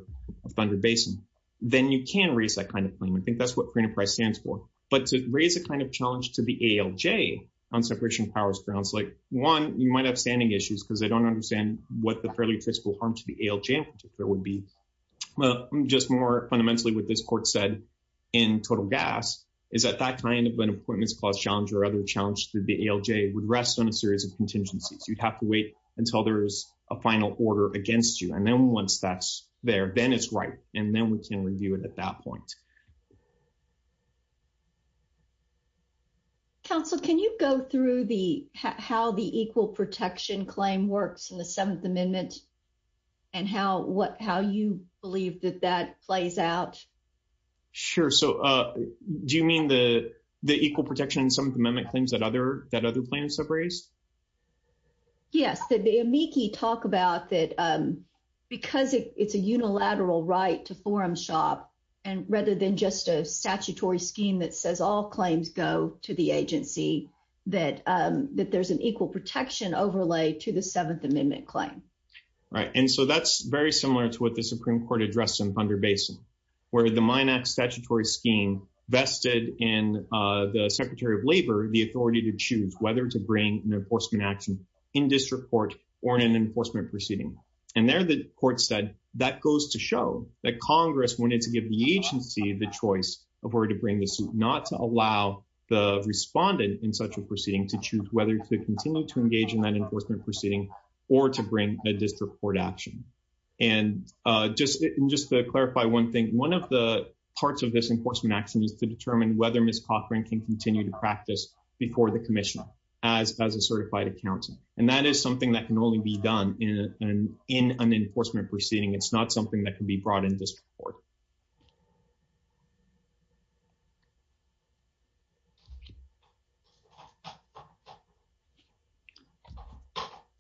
Thunder Basin, then you can raise that kind of claim. I think that's what free enterprise stands for. But to raise a kind of challenge to the ALJ on separation of powers grounds, like one, you might have standing issues because they don't understand what the fairly fiscal harm to the ALJ would be. Well, just more fundamentally with this court said, in total gas, is that that kind of an appointments clause challenge or other challenge to the ALJ would rest on a series of contingencies, you'd have to wait until there's a final order against you. And then once that's there, then it's right. And then we can review it at that point. Council, can you go through the how the equal protection claim works in the Seventh Amendment and how what how you believe that that plays out? Sure. So do you mean the the equal protection in some of the amendment claims that other that other plans have raised? Yes, the amici talk about that. Because it's a unilateral right to shop. And rather than just a statutory scheme that says all claims go to the agency, that that there's an equal protection overlay to the Seventh Amendment claim. Right. And so that's very similar to what the Supreme Court addressed in Thunder Basin, where the Mine Act statutory scheme vested in the Secretary of Labor the authority to choose whether to bring an enforcement action in district court or in an enforcement proceeding. And there, the court said that goes to show that Congress wanted to give the agency the choice of where to bring the suit, not to allow the respondent in such a proceeding to choose whether to continue to engage in that enforcement proceeding or to bring a district court action. And just just to clarify one thing, one of the parts of this enforcement action is to determine whether Miss Cochran can continue to practice before the commission as as a certified accountant. And that is something that can only be done in an in an enforcement proceeding. It's not something that can be brought into support.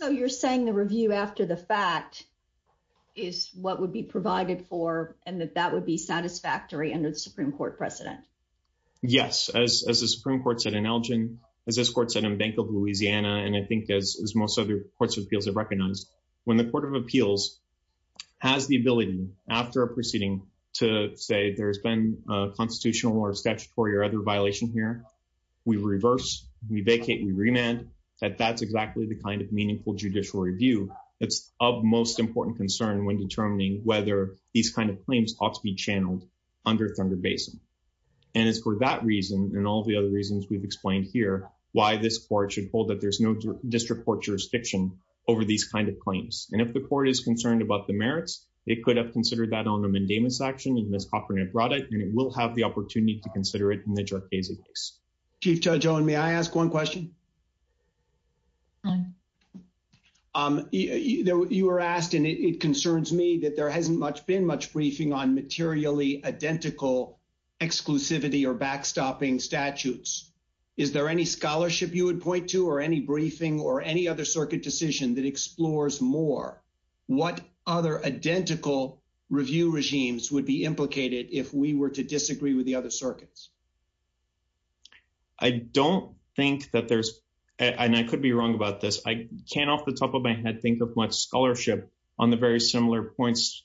So you're saying the review after the fact is what would be provided for and that that would be satisfactory under the Supreme Court precedent? Yes, as the Supreme Court said in Elgin, as this court said in Bank of Louisiana, and I think as most other courts of appeals have recognized, when the Court of Appeals has the ability after a proceeding to say there's been a constitutional or statutory or other violation here, we reverse, we vacate, we remand, that that's exactly the kind of meaningful judicial review that's of most important concern when determining whether these kind of claims ought to be channeled under Thunder Basin. And it's for that reason and all the other reasons we've explained here, why this court should hold that there's no district court jurisdiction over these kind of claims. And if the court is concerned about the merits, it could have considered that on the mandamus action and Miss Cochran brought it and it will have the opportunity to consider it in the Jorkese case. Chief Judge Owen, may I ask one question? You were asked and it concerns me that there hasn't much been much briefing on materially identical exclusivity or backstopping statutes. Is there any scholarship you would point to or any briefing or any other circuit decision that explores more what other identical review regimes would be implicated if we were to disagree with the other circuits? I don't think that there's, and I could be wrong about this, I can't off the top of my head think much scholarship on the very similar points,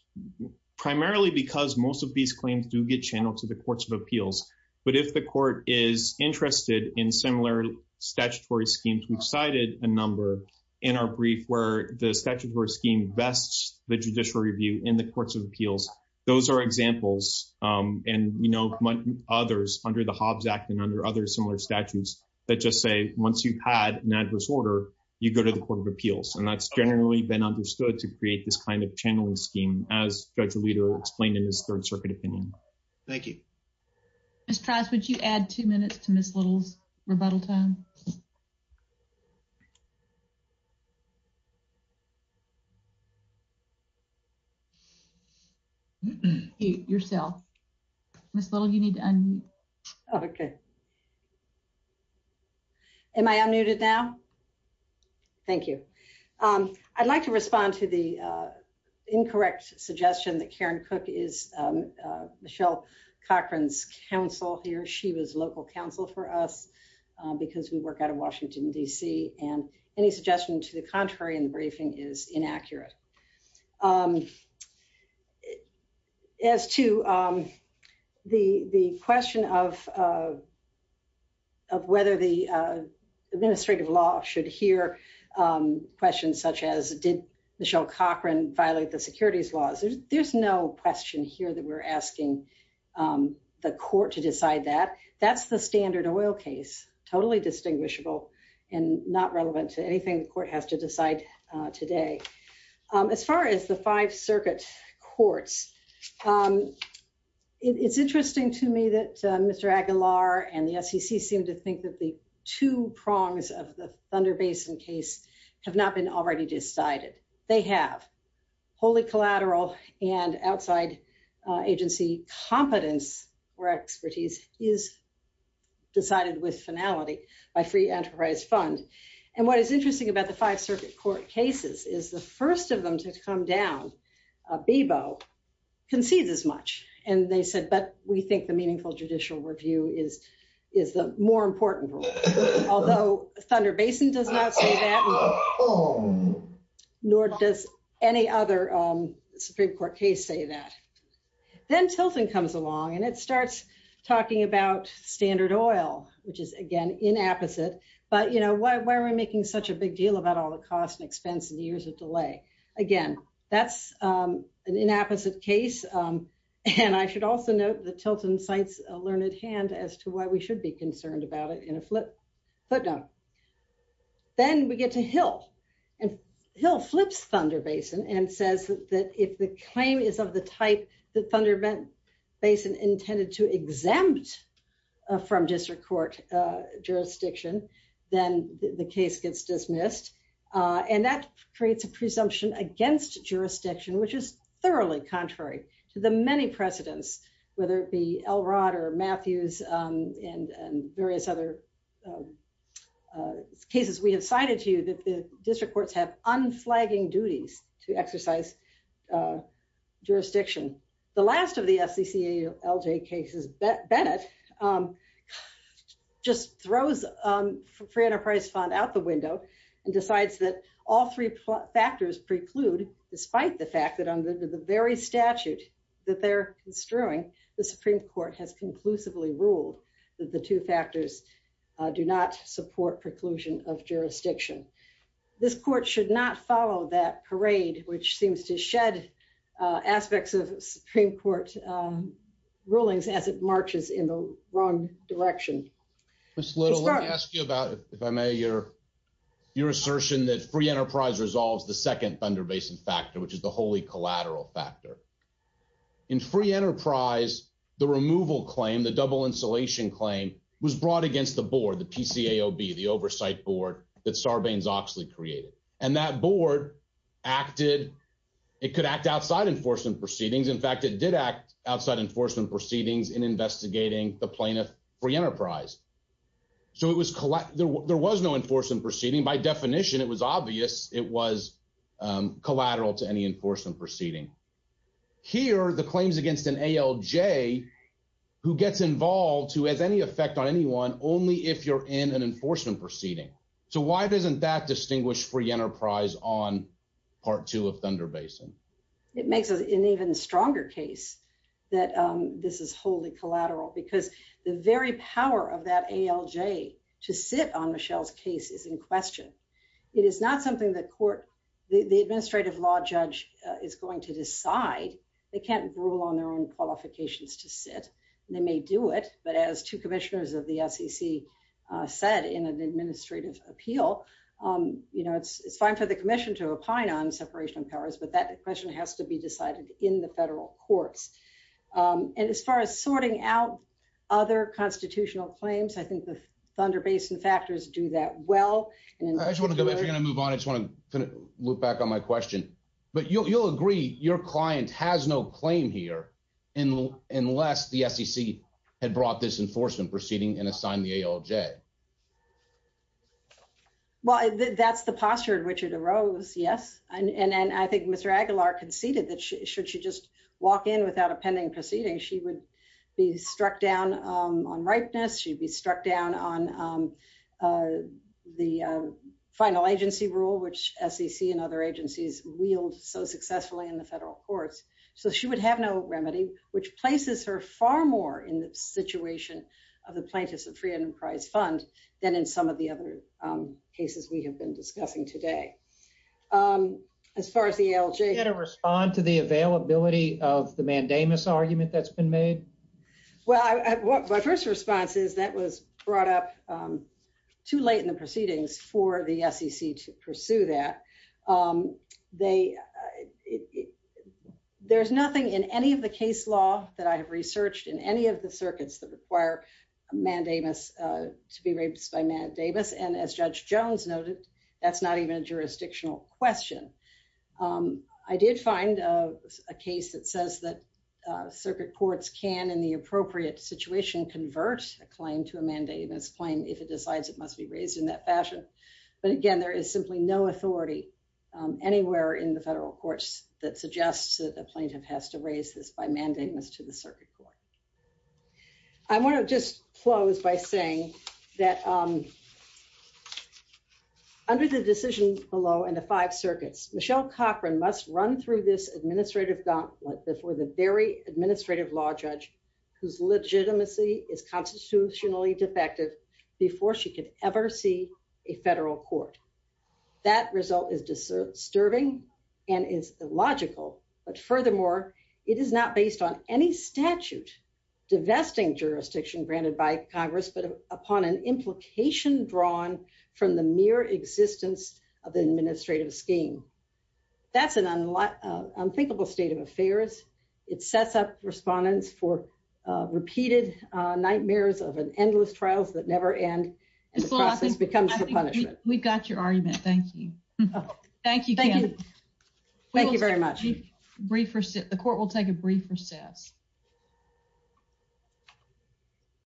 primarily because most of these claims do get channeled to the courts of appeals. But if the court is interested in similar statutory schemes, we've cited a number in our brief where the statutory scheme bests the judicial review in the courts of appeals. Those are examples and we know others under the Hobbs Act and under other similar statutes that just say, once you've had an adverse order, you go to the court of appeals. And that's generally been understood to create this kind of channeling scheme as Judge Alito explained in his Third Circuit opinion. Thank you. Ms. Trask, would you add two minutes to Ms. Little's rebuttal time? Yourself. Ms. Little, you need to unmute. Okay. Am I unmuted now? Thank you. I'd like to respond to the incorrect suggestion that Karen Cook is Michelle Cochran's counsel here. She was local counsel for us because we work out of Washington, D.C. and any suggestion to the contrary in the briefing is inaccurate. As to the question of whether the administrative law should hear questions such as, did Michelle Cochran violate the securities laws? There's no question here that we're asking the court to decide that. That's the standard oil case, totally distinguishable and not relevant to anything the As far as the Five Circuit courts, it's interesting to me that Mr. Aguilar and the SEC seem to think that the two prongs of the Thunder Basin case have not been already decided. They have. Wholly collateral and outside agency competence or expertise is decided with finality by free enterprise fund. And what is interesting about the Five Circuit court cases is the first of them to come down, Bebo, concedes as much. And they said, but we think the meaningful judicial review is the more important rule. Although Thunder Basin does not say that, nor does any other Supreme Court case say that. Then Tilton comes along and it starts talking about standard oil, which is again inapposite. But why are we making such a big deal about all the cost and expense and years of delay? Again, that's an inapposite case. And I should also note that Tilton cites a learned hand as to why we should be concerned about it in a flip footnote. Then we get to Hill and Hill flips Thunder Basin and says that if the claim is of the type that Thunder Basin intended to exempt from district court jurisdiction, then the case gets dismissed. And that creates a presumption against jurisdiction, which is thoroughly contrary to the many precedents, whether it be Elrod or Matthews and various other cases we have cited to you that the district courts have unflagging duties to exercise jurisdiction. The last of the FCC ALJ cases, Bennett just throws free enterprise fund out the window and decides that all three factors preclude, despite the fact that under the very statute that they're construing, the Supreme Court has conclusively ruled that the two factors do not support preclusion of jurisdiction. This court should not follow that parade, which seems to shed aspects of Supreme Court rulings as it marches in the wrong direction. Ms. Little, let me ask you about, if I may, your assertion that free enterprise resolves the second Thunder Basin factor, which is the wholly collateral factor. In free enterprise, the removal claim, the double insulation claim was brought against the board, the PCAOB, the oversight board that Sarbanes-Oxley created. And that board acted, it could act outside enforcement proceedings. In fact, it did act outside enforcement proceedings in investigating the plaintiff free enterprise. So there was no enforcement proceeding. By definition, it was obvious it was collateral to any enforcement proceeding. Here, the claims against an ALJ who gets involved who has any effect on anyone only if you're in an enforcement proceeding. So why doesn't that distinguish free enterprise on part two of Thunder Basin? It makes it an even stronger case that this is wholly collateral because the very power of that ALJ to sit on Michelle's case is in question. It is not something that court, the administrative law judge is going to decide. They can't rule on their own qualifications to sit. They may do it, but as two commissioners of the SEC said in an administrative appeal, it's fine for the commission to opine on separation of powers, but that question has to be decided in the federal courts. And as far as sorting out other constitutional claims, I think the Thunder Basin factors do that well. I just want to, if you're going to move on, I just want to look back on my question, but you'll agree your client has no claim here unless the SEC had brought this enforcement proceeding and assigned the ALJ. Well, that's the posture in which it arose. Yes. And I think Mr. Aguilar conceded that should she just walk in without a pending proceeding, she would be struck down on ripeness. She'd be struck down on the final agency rule, which SEC and other agencies wield so successfully in the federal courts. So she would have no remedy, which places her far more in the situation of the plaintiffs of free enterprise fund than in some of the other cases we have been discussing today. As far as the ALJ... Can you respond to the availability of the mandamus argument that's been made? Well, my first response is that was brought up too late in the proceedings for the SEC to pursue that. There's nothing in any of the case law that I have researched in any of the circuits that require mandamus to be raised by mandamus. And as Judge Jones noted, that's not even a jurisdictional question. I did find a case that says that circuit courts can, in the appropriate situation, convert a claim to a mandamus claim if it decides it must be raised in that fashion. But again, there is simply no authority anywhere in the federal courts that suggests that the plaintiff has to raise this by mandamus to the circuit court. I want to just close by saying that under the decision below and the five circuits, Michelle Cochran must run through this administrative gauntlet before the very administrative law judge whose legitimacy is constitutionally defective before she could ever see a federal court. That result is disturbing and is illogical. But furthermore, it is not based on any statute divesting jurisdiction granted by Congress, but upon an implication drawn from the mere existence of the administrative scheme. That's an unthinkable state of affairs. It sets up respondents for repeated nightmares of endless trials that never end and the process becomes the punishment. We've got your argument. Thank you. Thank you. Thank you very much. Brief recess. The court will take a brief recess.